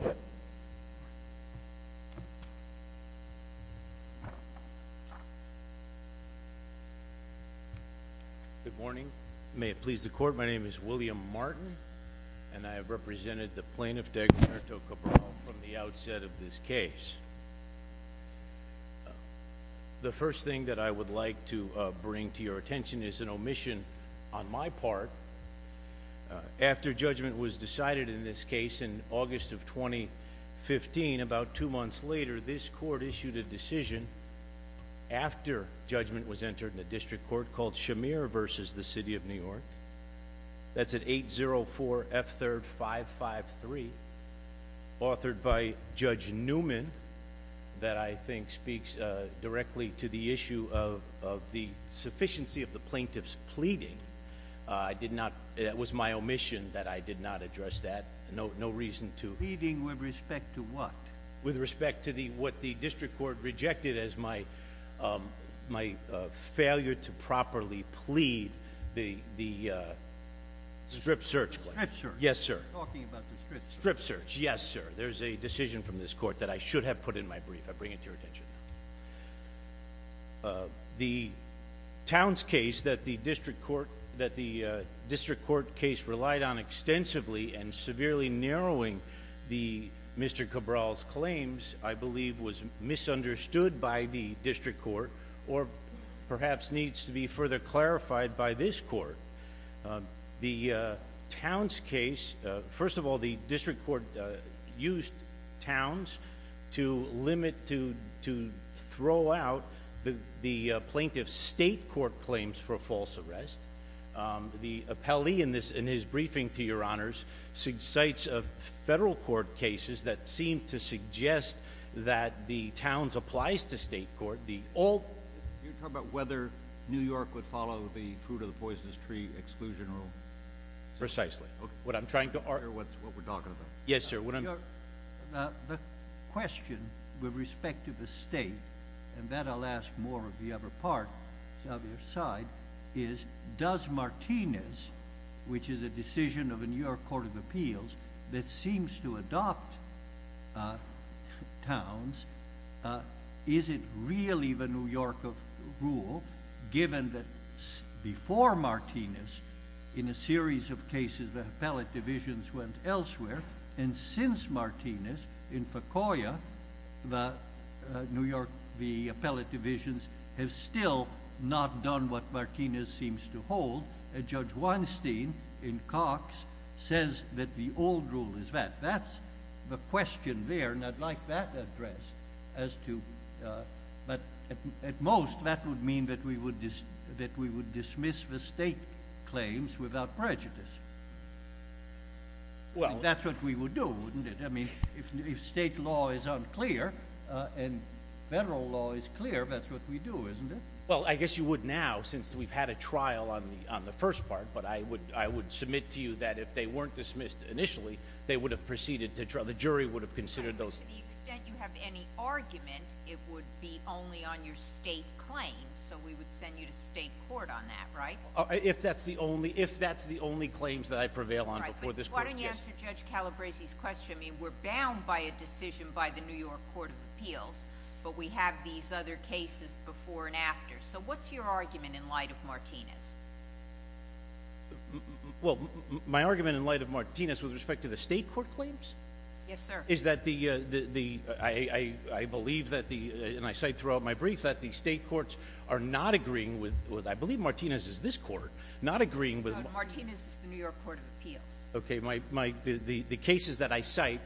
Good morning. May it please the Court, my name is William Martin, and I have represented the plaintiff, D'Agostino Cabral, from the outset of this case. The first thing that I would like to bring to your attention is an omission on my part. After judgment was decided in this case in August of 2015, about two months later, this Court issued a decision after judgment was entered in a district court called Shamir v. City of New York. That's of the sufficiency of the plaintiff's pleading. It was my omission that I did not address that. No reason to. Pleading with respect to what? With respect to what the district court rejected as my failure to properly plead the strip search. Strip search. Yes, sir. Talking about the strip search. Strip search, yes, sir. There's a decision from this Court that I should have put in my brief. I bring it to your attention. The Towns case that the district court case relied on extensively and severely narrowing Mr. Cabral's claims, I believe was misunderstood by the district court or perhaps needs to be further clarified by this Court. The Towns case, first of all, the district court used Towns to limit, to throw out the plaintiff's state court claims for false arrest. The appellee in his briefing, to your honors, cites federal court cases that seem to suggest that the Towns applies to state court. You're talking about whether New York would follow the fruit of the poisonous tree exclusion rule? Precisely. What I'm trying to argue. What we're talking about. Yes, sir. The question with respect to the state, and that I'll ask more of the other part of your side, is does Martinez, which is a decision of a New York Court of Appeals that seems to adopt Towns, is it really the New York rule, given that before Martinez, in a series of cases, the appellate divisions went elsewhere, and since Martinez in Fecoya, the New York, the appellate divisions have still not done what Martinez seems to hold. Judge Weinstein in Cox says that the old rule is that. That's the question there, and I'd like that addressed. At most, that would mean that we would dismiss the state claims without prejudice. That's what we would do, wouldn't it? If state law is unclear, and federal law is clear, that's what we do, isn't it? Well, I guess you would now, since we've had a trial on the first part, I would submit to you that if they weren't dismissed initially, the jury would have considered those. To the extent you have any argument, it would be only on your state claims, so we would send you to state court on that, right? If that's the only claims that I prevail on before this court, yes. Why don't you answer Judge Calabresi's question? We're bound by a decision by the New York Court of Appeals, but we have these other cases before and after. What's your argument in light of Martinez? Well, my argument in light of Martinez with respect to the state court claims? Yes, sir. Is that the, I believe that the, and I cite throughout my brief, that the state courts are not agreeing with, I believe Martinez is this court, not agreeing with- No, Martinez is the New York Court of Appeals. Okay, the cases that I cite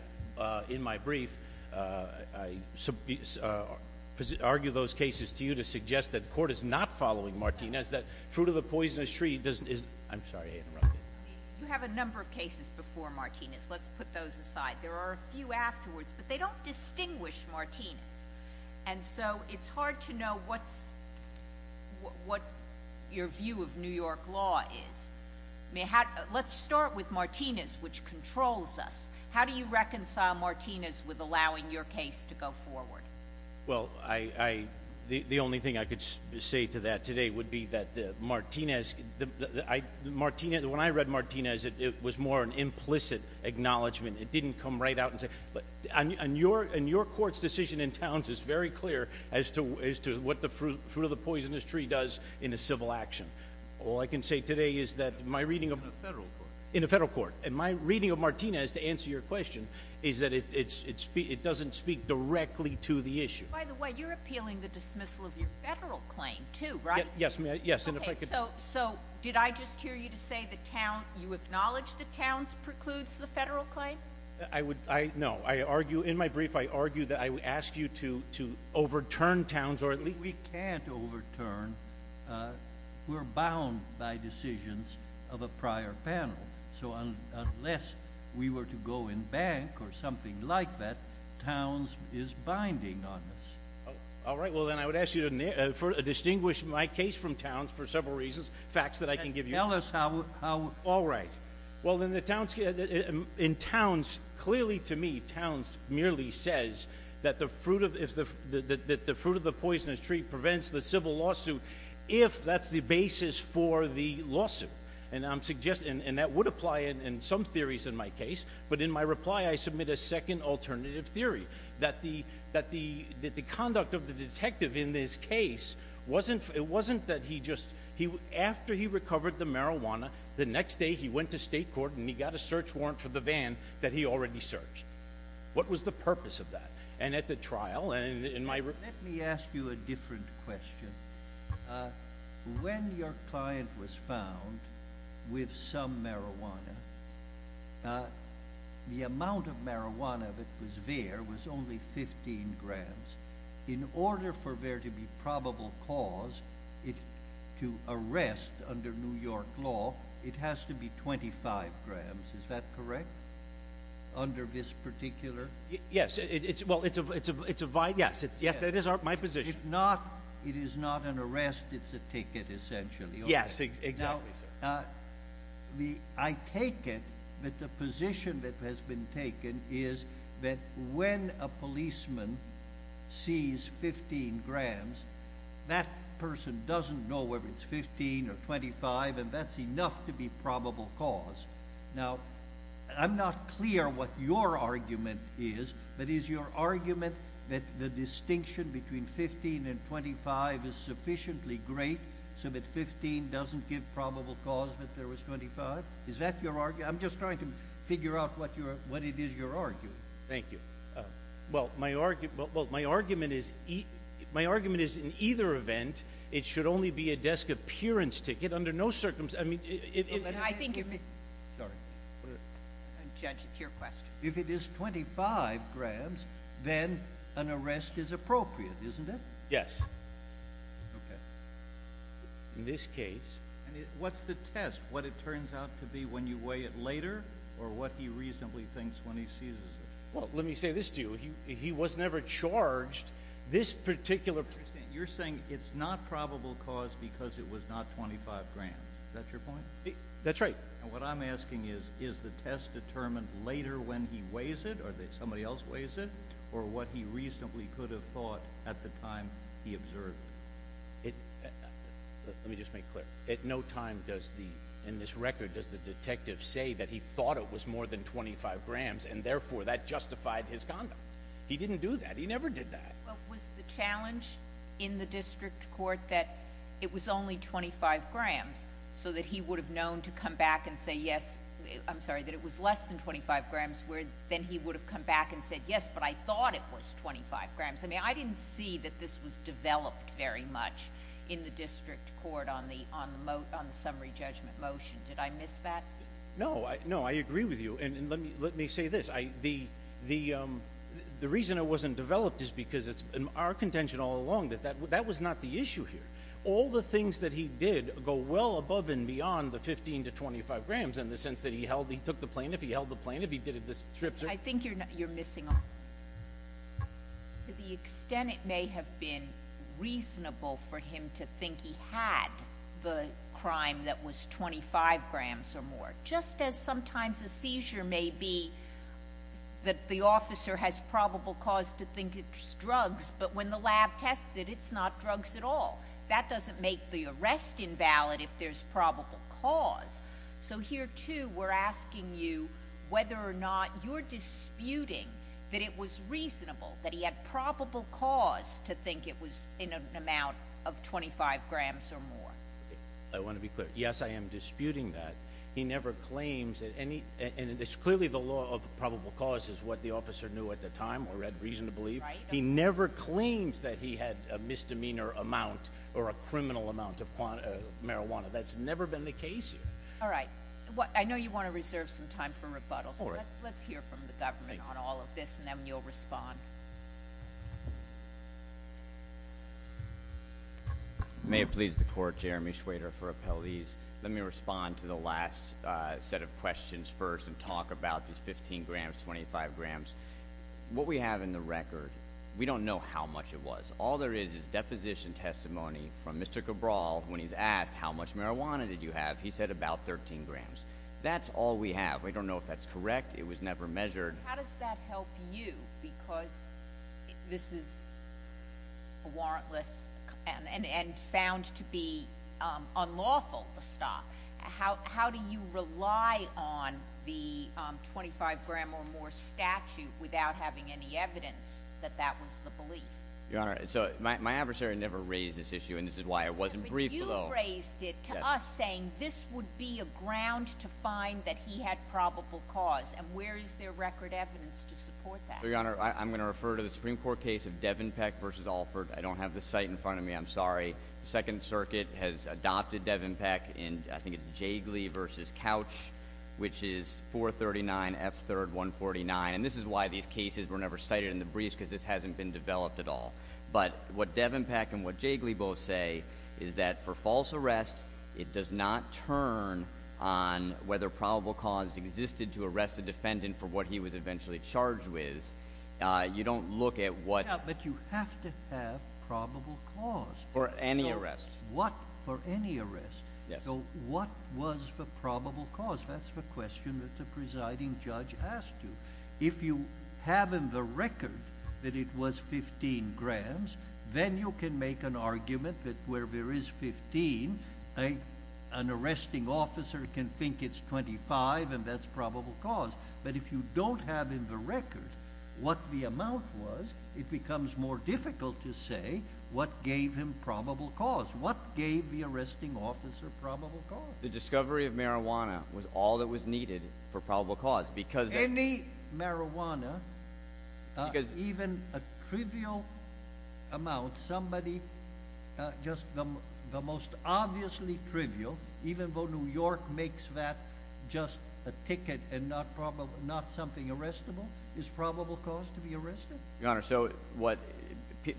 in my brief, I argue those cases to you to suggest that the court is not following Martinez, that fruit of the poisonous tree doesn't, is, I'm sorry to interrupt you. You have a number of cases before Martinez. Let's put those aside. There are a few afterwards, but they don't distinguish Martinez. And so, it's hard to know what's, what your view of New York law is. Let's start with Martinez, which controls us. How do you reconcile Martinez with allowing your case to go forward? Well, I, the only thing I could say to that today would be that the Martinez, when I read Martinez, it was more an implicit acknowledgement. It didn't come right out and say, but, and your court's decision in Towns is very clear as to what the fruit of the poisonous tree does in a civil action. All I can say today is that my reading of- In a federal court. In a federal court. And my reading of Martinez, to answer your question, is that it doesn't speak directly to the issue. By the way, you're appealing the dismissal of your federal claim, too, right? Yes, ma'am, yes, and if I could- So, did I just hear you to say that Towns, you acknowledge that Towns precludes the federal claim? I would, no, I argue, in my brief, I argue that I would ask you to overturn Towns, or at least- We can't overturn, we're bound by decisions of a prior panel. So unless we were to go in bank or something like that, Towns is binding on us. All right, well then I would ask you to distinguish my case from Towns for several reasons, facts that I can give you. Tell us how- All right, well then the Towns, in Towns, clearly to me Towns merely says that the fruit of the poisonous tree prevents the civil lawsuit if that's the basis for the lawsuit. And I'm suggesting, and that would apply in some theories in my case, but in my reply I submit a second alternative theory. That the conduct of the detective in this case, it wasn't that he just, after he recovered the marijuana, the next day he went to state court and he got a search warrant for the van that he already searched. What was the purpose of that? And at the trial, and in my- Let me ask you a different question. When your client was found with some marijuana, the amount of marijuana that was there was only 15 grams. In order for there to be probable cause to arrest under New York law, it has to be 25 grams, is that correct, under this particular? Yes, well it's a, yes, that is my position. If not, it is not an arrest, it's a ticket essentially. Yes, exactly so. Now, I take it that the position that has been taken is that when a policeman sees 15 grams, that person doesn't know whether it's 15 or 25 and that's enough to be probable cause. Now, I'm not clear what your argument is, but is your argument that the distinction between 15 and 25 is sufficiently great so that 15 doesn't give probable cause that there was 25? Is that your argument? I'm just trying to figure out what it is you're arguing. Thank you. Well, my argument is in either event, it should only be a desk appearance ticket under no circumstances, I mean- I think if it- Sorry. Judge, it's your question. If it is 25 grams, then an arrest is appropriate, isn't it? Yes. Okay, in this case- What's the test? What it turns out to be when you weigh it later or what he reasonably thinks when he sees it? Well, let me say this to you, he was never charged this particular- You're saying it's not probable cause because it was not 25 grams, is that your point? That's right. And what I'm asking is, is the test determined later when he weighs it or that somebody else weighs it, or what he reasonably could have thought at the time he observed it? Let me just make clear, at no time does the, in this record, does the detective say that he thought it was more than 25 grams and therefore that justified his conduct. He didn't do that, he never did that. Well, was the challenge in the district court that it was only 25 grams so that he would have known to come back and say, yes, I'm sorry, that it was less than 25 grams. Then he would have come back and said, yes, but I thought it was 25 grams. I mean, I didn't see that this was developed very much in the district court on the summary judgment motion. Did I miss that? No, no, I agree with you. And let me say this, the reason it wasn't developed is because it's our contention all along that that was not the issue here. All the things that he did go well above and beyond the 15 to 25 grams in the sense that he held, he took the plaintiff, he held the plaintiff, he did the strips. I think you're missing to the extent it may have been reasonable for him to think he had the crime that was 25 grams or more. Just as sometimes a seizure may be that the officer has probable cause to think it's drugs, but when the lab tests it, it's not drugs at all. That doesn't make the arrest invalid if there's probable cause. So here too, we're asking you whether or not you're disputing that it was reasonable, that he had probable cause to think it was in an amount of 25 grams or more. I want to be clear. Yes, I am disputing that. He never claims that any, and it's clearly the law of probable cause is what the officer knew at the time or had reason to believe. He never claims that he had a misdemeanor amount or a criminal amount of marijuana. That's never been the case here. All right. I know you want to reserve some time for rebuttals. Let's hear from the government on all of this and then you'll respond. May it please the court, Jeremy Schwader for appellees. Let me respond to the last set of questions first and talk about these 15 grams, 25 grams. What we have in the record, we don't know how much it was. All there is is deposition testimony from Mr. Cabral when he's asked how much marijuana did you have? He said about 13 grams. That's all we have. We don't know if that's correct. It was never measured. How does that help you because this is a warrantless and found to be unlawful to stop. How do you rely on the 25 gram or more statute without having any evidence that that was the belief? Your Honor, so my adversary never raised this issue and this is why I wasn't briefed. You raised it to us saying this would be a ground to find that he had probable cause. And where is there record evidence to support that? Your Honor, I'm going to refer to the Supreme Court case of Devenpeck versus Alford. I don't have the site in front of me, I'm sorry. Second circuit has adopted Devenpeck in, I think it's Jiggly versus Couch, which is 439 F3rd 149. And this is why these cases were never cited in the briefs, because this hasn't been developed at all. But what Devenpeck and what Jiggly both say is that for false arrest, it does not turn on whether probable cause existed to arrest the defendant for what he was eventually charged with. You don't look at what- For any arrest. What for any arrest. So what was the probable cause? That's the question that the presiding judge asked you. If you have in the record that it was 15 grams, then you can make an argument that where there is 15, an arresting officer can think it's 25 and that's probable cause. But if you don't have in the record what the amount was, it becomes more difficult to say what gave him probable cause. What gave the arresting officer probable cause? The discovery of marijuana was all that was needed for probable cause because- Any marijuana, even a trivial amount, somebody just the most obviously trivial, even though New York makes that just a ticket and not something arrestable, is probable cause to be arrested. Your Honor, so what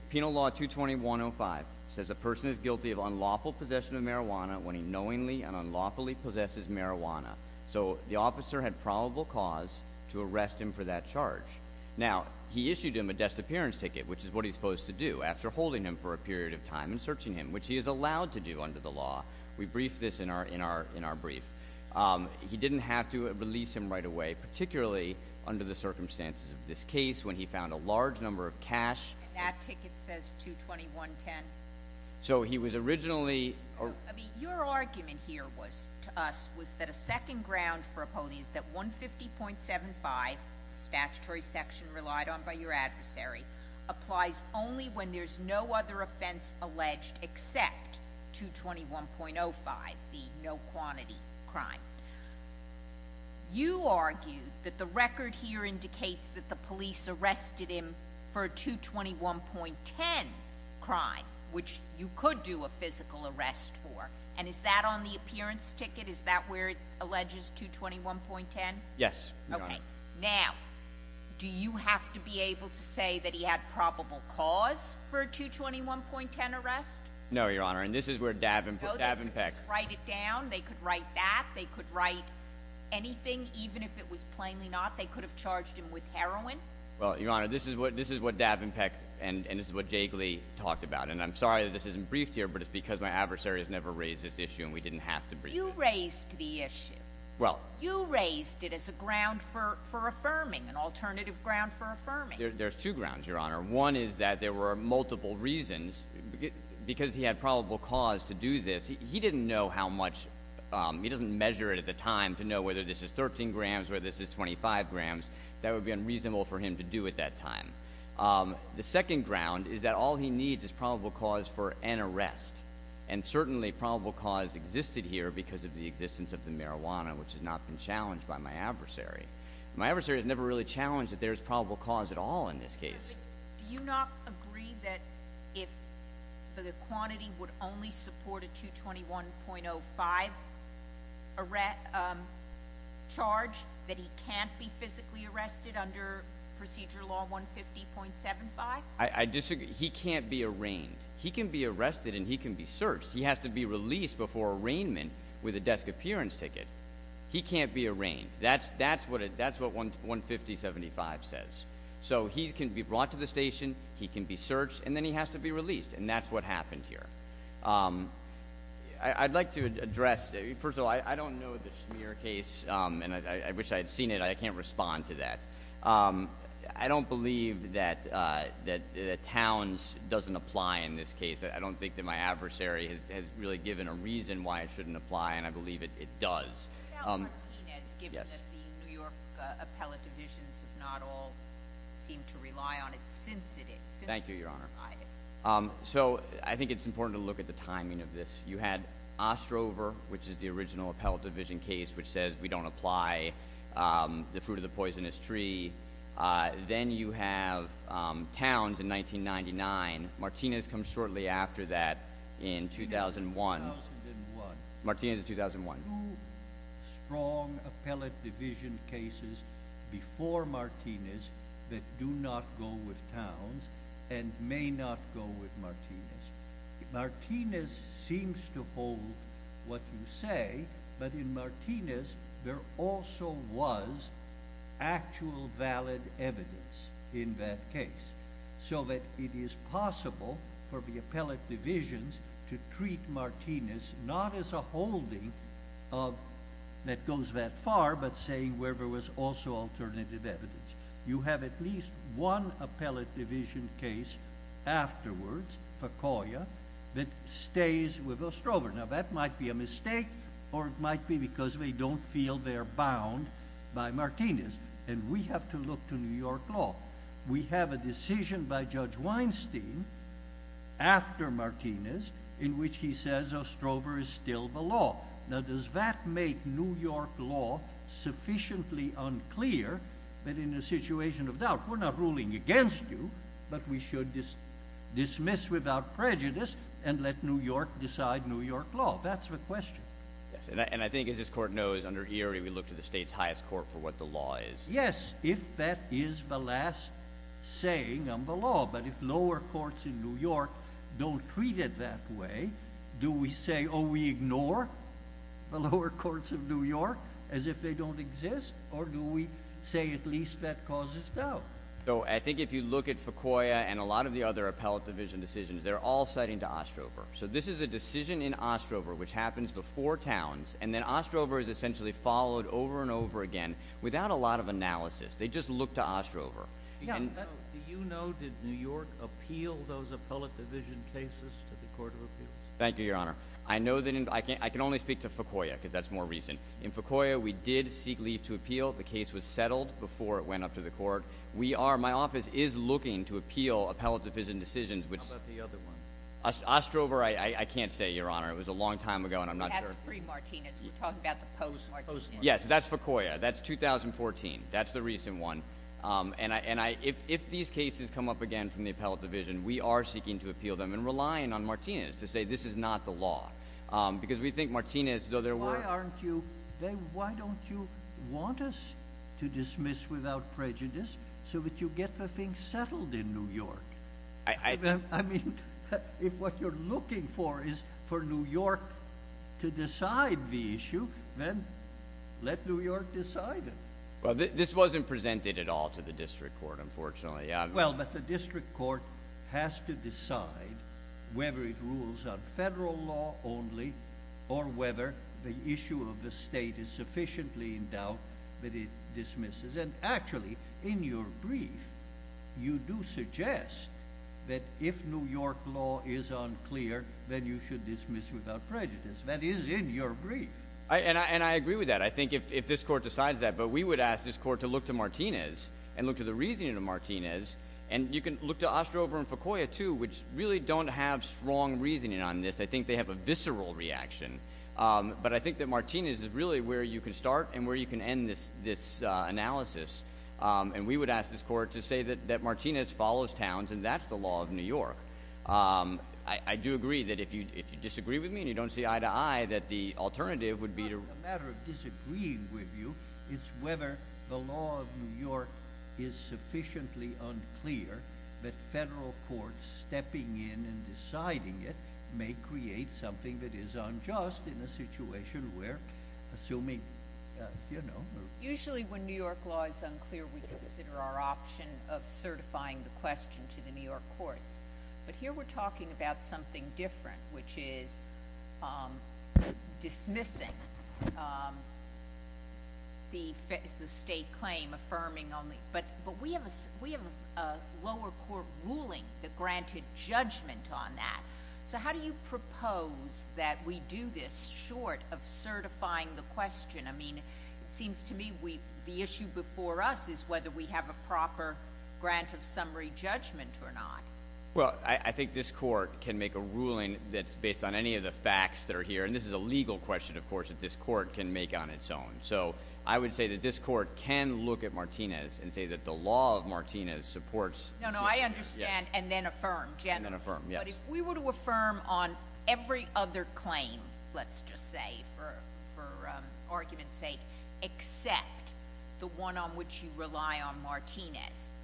Penal Law 220-105 says, a person is guilty of unlawful possession of marijuana when he knowingly and unlawfully possesses marijuana. So the officer had probable cause to arrest him for that charge. Now, he issued him a disappearance ticket, which is what he's supposed to do after holding him for a period of time and searching him, which he is allowed to do under the law. We briefed this in our brief. He didn't have to release him right away, particularly under the circumstances of this case when he found a large number of cash. That ticket says 220-110. So he was originally- I mean, your argument here was, to us, was that a second ground for a police that 150.75 statutory section relied on by your adversary applies only when there's no other offense alleged except 221.05, the no quantity crime. You argue that the record here indicates that the police arrested him for a 221.10 crime, which you could do a physical arrest for. And is that on the appearance ticket? Is that where it alleges 221.10? Yes, Your Honor. Okay, now, do you have to be able to say that he had probable cause for a 221.10 arrest? No, Your Honor, and this is where Davenpeck- They could write it down, they could write that, they could write anything, even if it was plainly not. They could have charged him with heroin. Well, Your Honor, this is what Davenpeck and this is what Jagley talked about. And I'm sorry that this isn't briefed here, but it's because my adversary has never raised this issue and we didn't have to brief him. You raised the issue. Well- You raised it as a ground for affirming, an alternative ground for affirming. There's two grounds, Your Honor. One is that there were multiple reasons, because he had probable cause to do this. He didn't know how much, he doesn't measure it at the time to know whether this is 13 grams, whether this is 25 grams, that would be unreasonable for him to do at that time. The second ground is that all he needs is probable cause for an arrest. And certainly, probable cause existed here because of the existence of the marijuana, which has not been challenged by my adversary. My adversary has never really challenged that there's probable cause at all in this case. Do you not agree that if the quantity would only support a 221.05 charge that he can't be physically arrested under Procedure Law 150.75? I disagree. He can't be arraigned. He can be arrested and he can be searched. He has to be released before arraignment with a desk appearance ticket. He can't be arraigned. That's what 150.75 says. So he can be brought to the station, he can be searched, and then he has to be released, and that's what happened here. I'd like to address, first of all, I don't know the Schmier case, and I wish I had seen it. I can't respond to that. I don't believe that Towns doesn't apply in this case. I don't think that my adversary has really given a reason why it shouldn't apply, and I believe it does. Yes. Yes. Given that the New York appellate divisions have not all seemed to rely on it since it existed. Thank you, Your Honor. So, I think it's important to look at the timing of this. You had Ostrover, which is the original appellate division case, which says we don't apply the fruit of the poisonous tree. Then you have Towns in 1999. Martinez comes shortly after that in 2001. 2001. Martinez in 2001. Two strong appellate division cases before Martinez that do not go with Towns and may not go with Martinez. Martinez seems to hold what you say, but in Martinez there also was actual valid evidence in that case. So that it is possible for the appellate divisions to treat Martinez not as a holding that goes that far, but saying where there was also alternative evidence. You have at least one appellate division case afterwards for Coya that stays with Ostrover. Now that might be a mistake, or it might be because they don't feel they're bound by Martinez. And we have to look to New York law. We have a decision by Judge Weinstein after Martinez in which he says Ostrover is still the law. Now does that make New York law sufficiently unclear that in a situation of doubt, we're not ruling against you, but we should dismiss without prejudice and let New York decide New York law. That's the question. Yes, and I think as this court knows, under Erie, we look to the state's highest court for what the law is. Yes, if that is the last saying on the law. But if lower courts in New York don't treat it that way, do we say, we ignore the lower courts of New York as if they don't exist? Or do we say at least that causes doubt? So I think if you look at Fecoya and a lot of the other appellate division decisions, they're all citing to Ostrover. So this is a decision in Ostrover, which happens before Towns. And then Ostrover is essentially followed over and over again without a lot of analysis. They just look to Ostrover. Yeah. Do you know, did New York appeal those appellate division cases to the Court of Appeals? Thank you, Your Honor. I know that, I can only speak to Fecoya, because that's more recent. In Fecoya, we did seek leave to appeal. The case was settled before it went up to the court. We are, my office is looking to appeal appellate division decisions, which- How about the other one? Ostrover, I can't say, Your Honor. It was a long time ago, and I'm not sure. Supreme Martinez, we're talking about the post-Martinez. Yes, that's Fecoya. That's 2014. That's the recent one. And if these cases come up again from the appellate division, we are seeking to appeal them and relying on Martinez to say this is not the law. Because we think Martinez, though there were- Why aren't you, why don't you want us to dismiss without prejudice so that you get the thing settled in New York? I mean, if what you're looking for is for New York to decide the issue, then let New York decide it. Well, this wasn't presented at all to the district court, unfortunately. Well, but the district court has to decide whether it rules on federal law only or whether the issue of the state is sufficiently in doubt that it dismisses. And actually, in your brief, you do suggest that if New York law is unclear, then you should dismiss without prejudice, that is in your brief. And I agree with that. I think if this court decides that, but we would ask this court to look to Martinez and look to the reasoning of Martinez. And you can look to Ostrover and Fecoya, too, which really don't have strong reasoning on this. I think they have a visceral reaction. But I think that Martinez is really where you can start and where you can end this analysis. And we would ask this court to say that Martinez follows towns and that's the law of New York. I do agree that if you disagree with me and you don't see eye to eye, that the alternative would be to- It's not a matter of disagreeing with you, it's whether the law of New York is sufficiently unclear that federal courts stepping in and deciding it may create something that is unjust in a situation where, assuming, you know. Usually when New York law is unclear, we consider our option of certifying the question to the New York courts. But here we're talking about something different, which is dismissing the state claim affirming only. But we have a lower court ruling that granted judgment on that. So how do you propose that we do this short of certifying the question? I mean, it seems to me the issue before us is whether we have a proper grant of summary judgment or not. Well, I think this court can make a ruling that's based on any of the facts that are here. And this is a legal question, of course, that this court can make on its own. So I would say that this court can look at Martinez and say that the law of Martinez supports- No, no, I understand and then affirm, generally. And then affirm, yes. But if we were to affirm on every other claim, let's just say for argument's sake, except the one on which you rely on Martinez.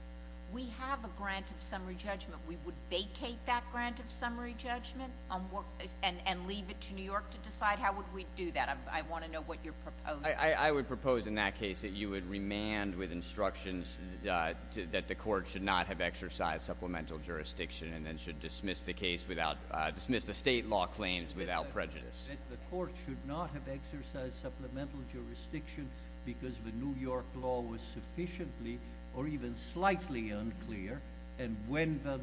We have a grant of summary judgment. We would vacate that grant of summary judgment and leave it to New York to decide how would we do that. I want to know what you're proposing. I would propose in that case that you would remand with instructions that the court should not have exercised supplemental jurisdiction. And then should dismiss the case without, dismiss the state law claims without prejudice. The court should not have exercised supplemental jurisdiction because the New York law was sufficiently or even slightly unclear and when the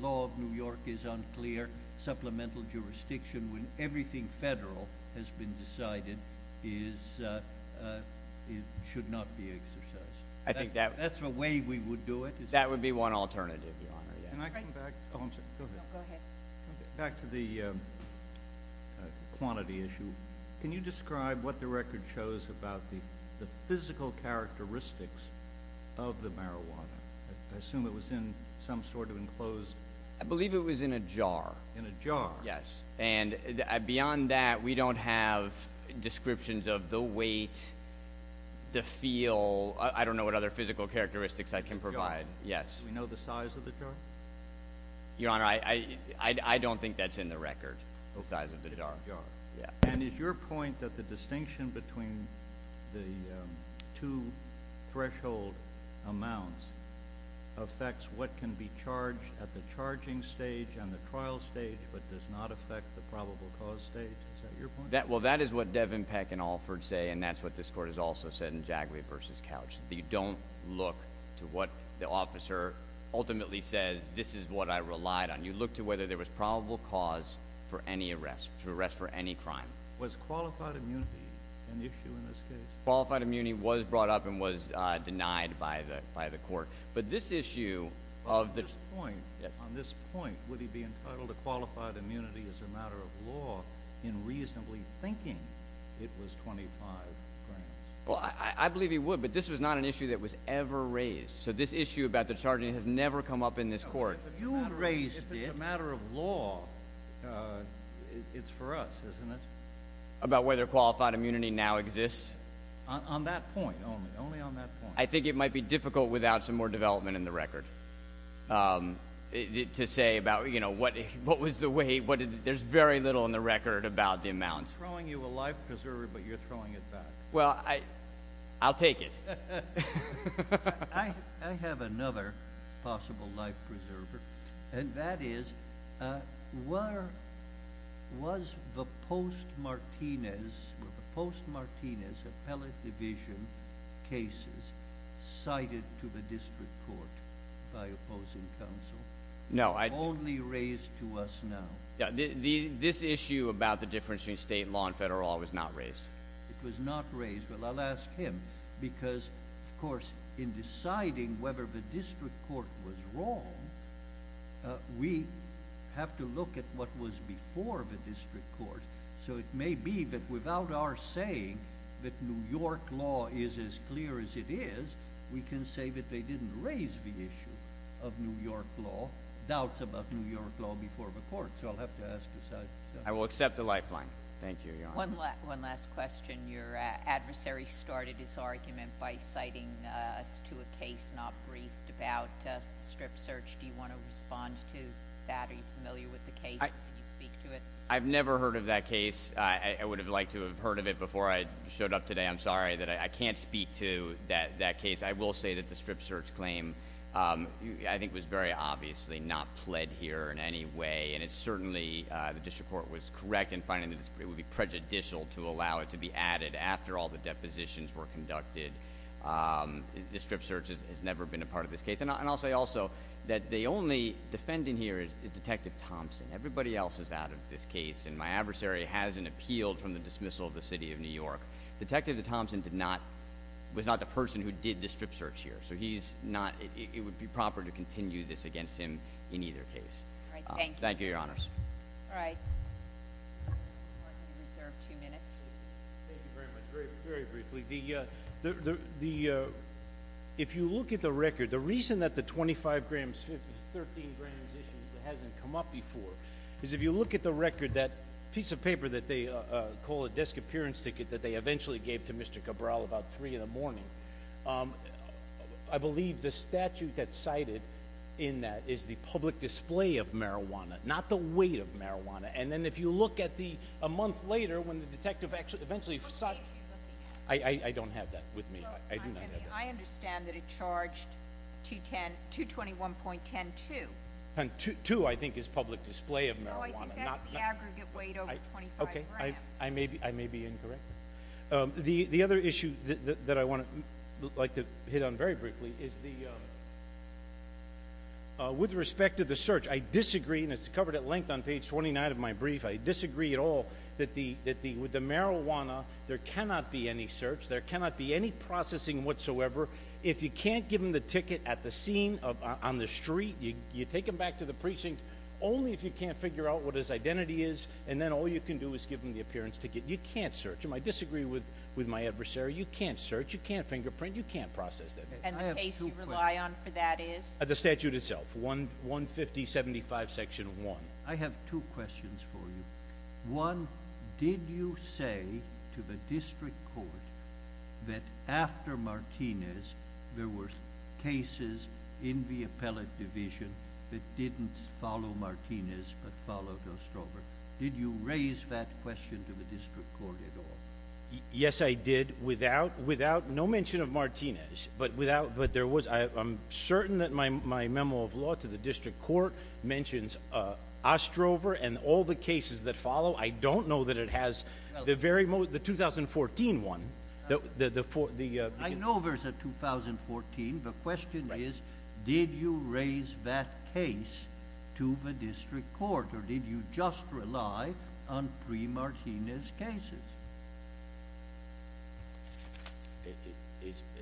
law of New York is unclear, supplemental jurisdiction when everything federal has been decided is, it should not be exercised. I think that- That's the way we would do it. That would be one alternative, Your Honor, yeah. Can I come back? I'm sorry, go ahead. No, go ahead. Back to the quantity issue. Can you describe what the record shows about the physical characteristics of the marijuana? I assume it was in some sort of enclosed- I believe it was in a jar. In a jar? Yes, and beyond that, we don't have descriptions of the weight, the feel, I don't know what other physical characteristics I can provide. Yes. Do we know the size of the jar? Your Honor, I don't think that's in the record, the size of the jar. And is your point that the distinction between the two threshold amounts affects what can be charged at the charging stage and the trial stage, but does not affect the probable cause stage, is that your point? Well, that is what Devin Peck and Alford say, and that's what this court has also said in Jaguary versus Couch. You don't look to what the officer ultimately says, this is what I relied on. You look to whether there was probable cause for any arrest, to arrest for any crime. Was qualified immunity an issue in this case? Qualified immunity was brought up and was denied by the court. But this issue of the- On this point, would he be entitled to qualified immunity as a matter of law in reasonably thinking it was 25 grams? Well, I believe he would, but this was not an issue that was ever raised. So this issue about the charging has never come up in this court. But you raised it. If it's a matter of law, it's for us, isn't it? About whether qualified immunity now exists? On that point only, only on that point. I think it might be difficult without some more development in the record. To say about what was the way, there's very little in the record about the amounts. We're throwing you a life preserver, but you're throwing it back. Well, I'll take it. I have another possible life preserver, and that is, was the post-Martinez appellate division cases cited to the district court by opposing counsel? No, I- Only raised to us now. Yeah, this issue about the difference between state law and federal law was not raised. It was not raised. Well, I'll ask him, because, of course, in deciding whether the district court was wrong, we have to look at what was before the district court. So it may be that without our saying that New York law is as clear as it is, we can say that they didn't raise the issue of New York law, doubts about New York law before the court. So I'll have to ask aside. I will accept the lifeline. Thank you, Your Honor. One last question. Your adversary started his argument by citing us to a case not briefed about the strip search. Do you want to respond to that? Are you familiar with the case? Can you speak to it? I've never heard of that case. I would have liked to have heard of it before I showed up today. I'm sorry that I can't speak to that case. I will say that the strip search claim, I think, was very obviously not pled here in any way. And it's certainly, the district court was correct in finding that it would be prejudicial to allow it to be added after all the depositions were conducted. The strip search has never been a part of this case. And I'll say also that the only defendant here is Detective Thompson. Everybody else is out of this case, and my adversary hasn't appealed from the dismissal of the city of New York. Detective Thompson was not the person who did the strip search here. So he's not, it would be proper to continue this against him in either case. Thank you, your honors. All right. You're reserved two minutes. Thank you very much. Very briefly, if you look at the record, the reason that the 25 grams, 13 grams issue hasn't come up before, is if you look at the record, that piece of paper that they call a desk appearance ticket that they eventually gave to Mr. Cabral about 3 in the morning. I believe the statute that's cited in that is the public display of marijuana, not the weight of marijuana. And then if you look at the, a month later, when the detective actually, eventually- What page are you looking at? I don't have that with me. I do not have that. I understand that it charged 221.102. And 2, I think, is public display of marijuana. No, I think that's the aggregate weight over 25 grams. Okay, I may be incorrect. The other issue that I want to, like to hit on very briefly, is the, with respect to the search, I disagree, and it's covered at length on page 29 of my brief. I disagree at all that with the marijuana, there cannot be any search. There cannot be any processing whatsoever. If you can't give him the ticket at the scene, on the street, you take him back to the precinct, only if you can't figure out what his identity is, and then all you can do is give him the appearance ticket. You can't search him. I disagree with my adversary. You can't search. You can't fingerprint. You can't process that. And the case you rely on for that is? The statute itself, 15075 section one. I have two questions for you. One, did you say to the district court that after Martinez, there were cases in the appellate division that didn't follow Martinez, but followed Ostrover? Did you raise that question to the district court at all? Yes, I did, without, no mention of Martinez. But without, but there was, I'm certain that my memo of law to the district court mentions Ostrover and all the cases that follow. I don't know that it has the very, the 2014 one, the- I know there's a 2014, the question is, did you raise that case to the district court? Or did you just rely on pre-Martinez cases?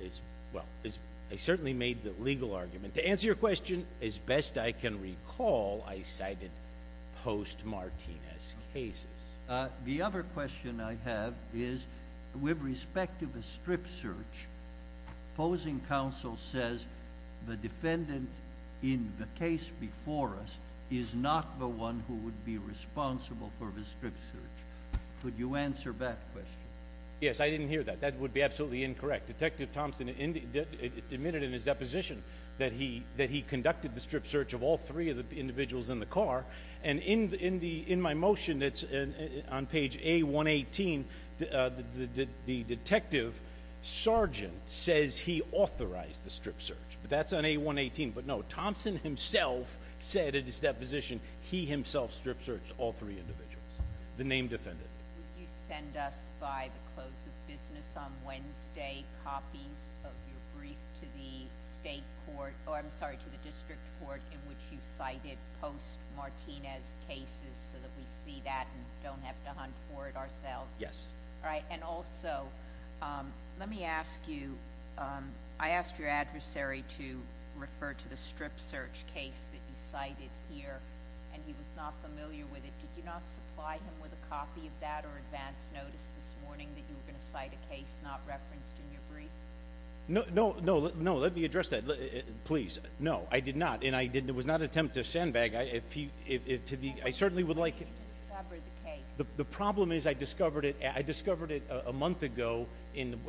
It's, well, I certainly made the legal argument. To answer your question, as best I can recall, I cited post-Martinez cases. The other question I have is, with respect to the strip search, opposing counsel says the defendant in the case before us is not the one who would be responsible for the strip search. Could you answer that question? Yes, I didn't hear that. That would be absolutely incorrect. Detective Thompson admitted in his deposition that he conducted the strip search of all three of the individuals in the car. And in my motion, it's on page A118, the detective sergeant says he authorized the strip search. That's on A118. But no, Thompson himself said in his deposition, he himself strip searched all three individuals, the name defendant. Would you send us by the close of business on Wednesday copies of your brief to the state court, or I'm sorry, to the district court in which you cited post-Martinez cases so that we see that and don't have to hunt for it ourselves? Yes. All right, and also, let me ask you, I asked your adversary to refer to the strip search case that you cited here, and he was not familiar with it. Did you not supply him with a copy of that or advance notice this morning that you were going to cite a case not referenced in your brief? No, no, no, let me address that, please. No, I did not, and it was not an attempt to sandbag, I certainly would like- How did you discover the case? The problem is I discovered it a month ago in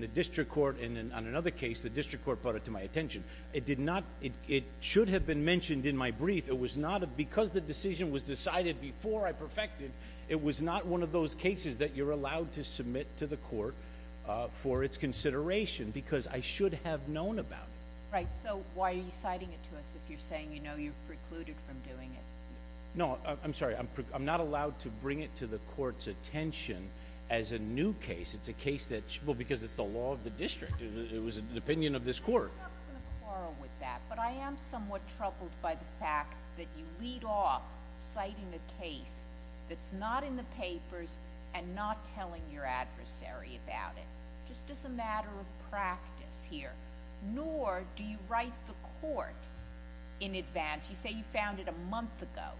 the district court, and in another case, the district court brought it to my attention. It should have been mentioned in my brief, it was not, because the decision was decided before I perfected, it was not one of those cases that you're allowed to submit to the court for its consideration, because I should have known about it. Right, so why are you citing it to us if you're saying you know you've precluded from doing it? No, I'm sorry, I'm not allowed to bring it to the court's attention as a new case. It's a case that, well, because it's the law of the district, it was an opinion of this court. I'm not going to quarrel with that, but I am somewhat troubled by the fact that you lead off citing a case that's not in the papers and not telling your adversary about it. Just as a matter of practice here, nor do you write the court in advance. You say you found it a month ago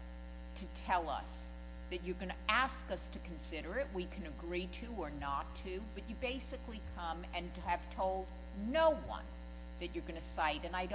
to tell us that you're going to ask us to consider it. We can agree to or not to, but you basically come and have told no one that you're going to cite. And I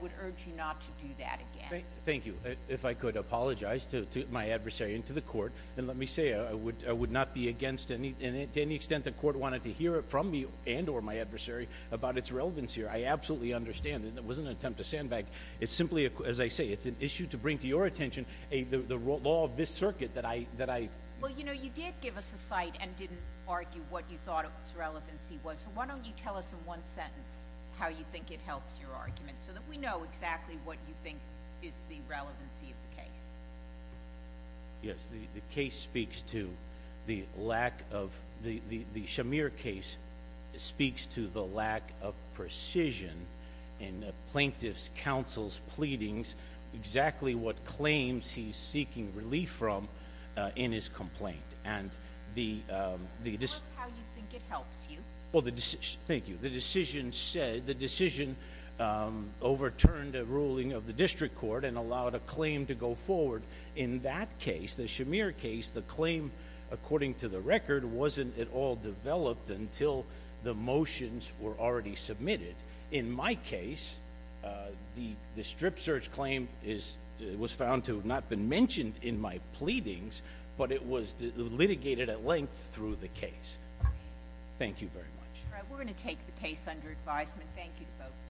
would urge you not to do that again. Thank you. If I could apologize to my adversary and to the court. And let me say, I would not be against any, and to any extent the court wanted to hear it from me and or my adversary about its relevance here. I absolutely understand, and it wasn't an attempt to sandbag. It's simply, as I say, it's an issue to bring to your attention, the law of this circuit that I- Well, you did give us a cite and didn't argue what you thought its relevancy was. So why don't you tell us in one sentence how you think it helps your argument so that we know exactly what you think is the relevancy of the case. Yes, the case speaks to the lack of, the Shamir case speaks to the lack of precision. In the plaintiff's counsel's pleadings, exactly what claims he's seeking relief from in his complaint. And the- Tell us how you think it helps you. Well, thank you. The decision overturned a ruling of the district court and allowed a claim to go forward. In that case, the Shamir case, the claim, according to the record, wasn't at all developed until the motions were already submitted. In my case, the strip search claim was found to have not been mentioned in my pleadings, but it was litigated at length through the case. Thank you very much. All right, we're going to take the case under advisement. Thank you, folks.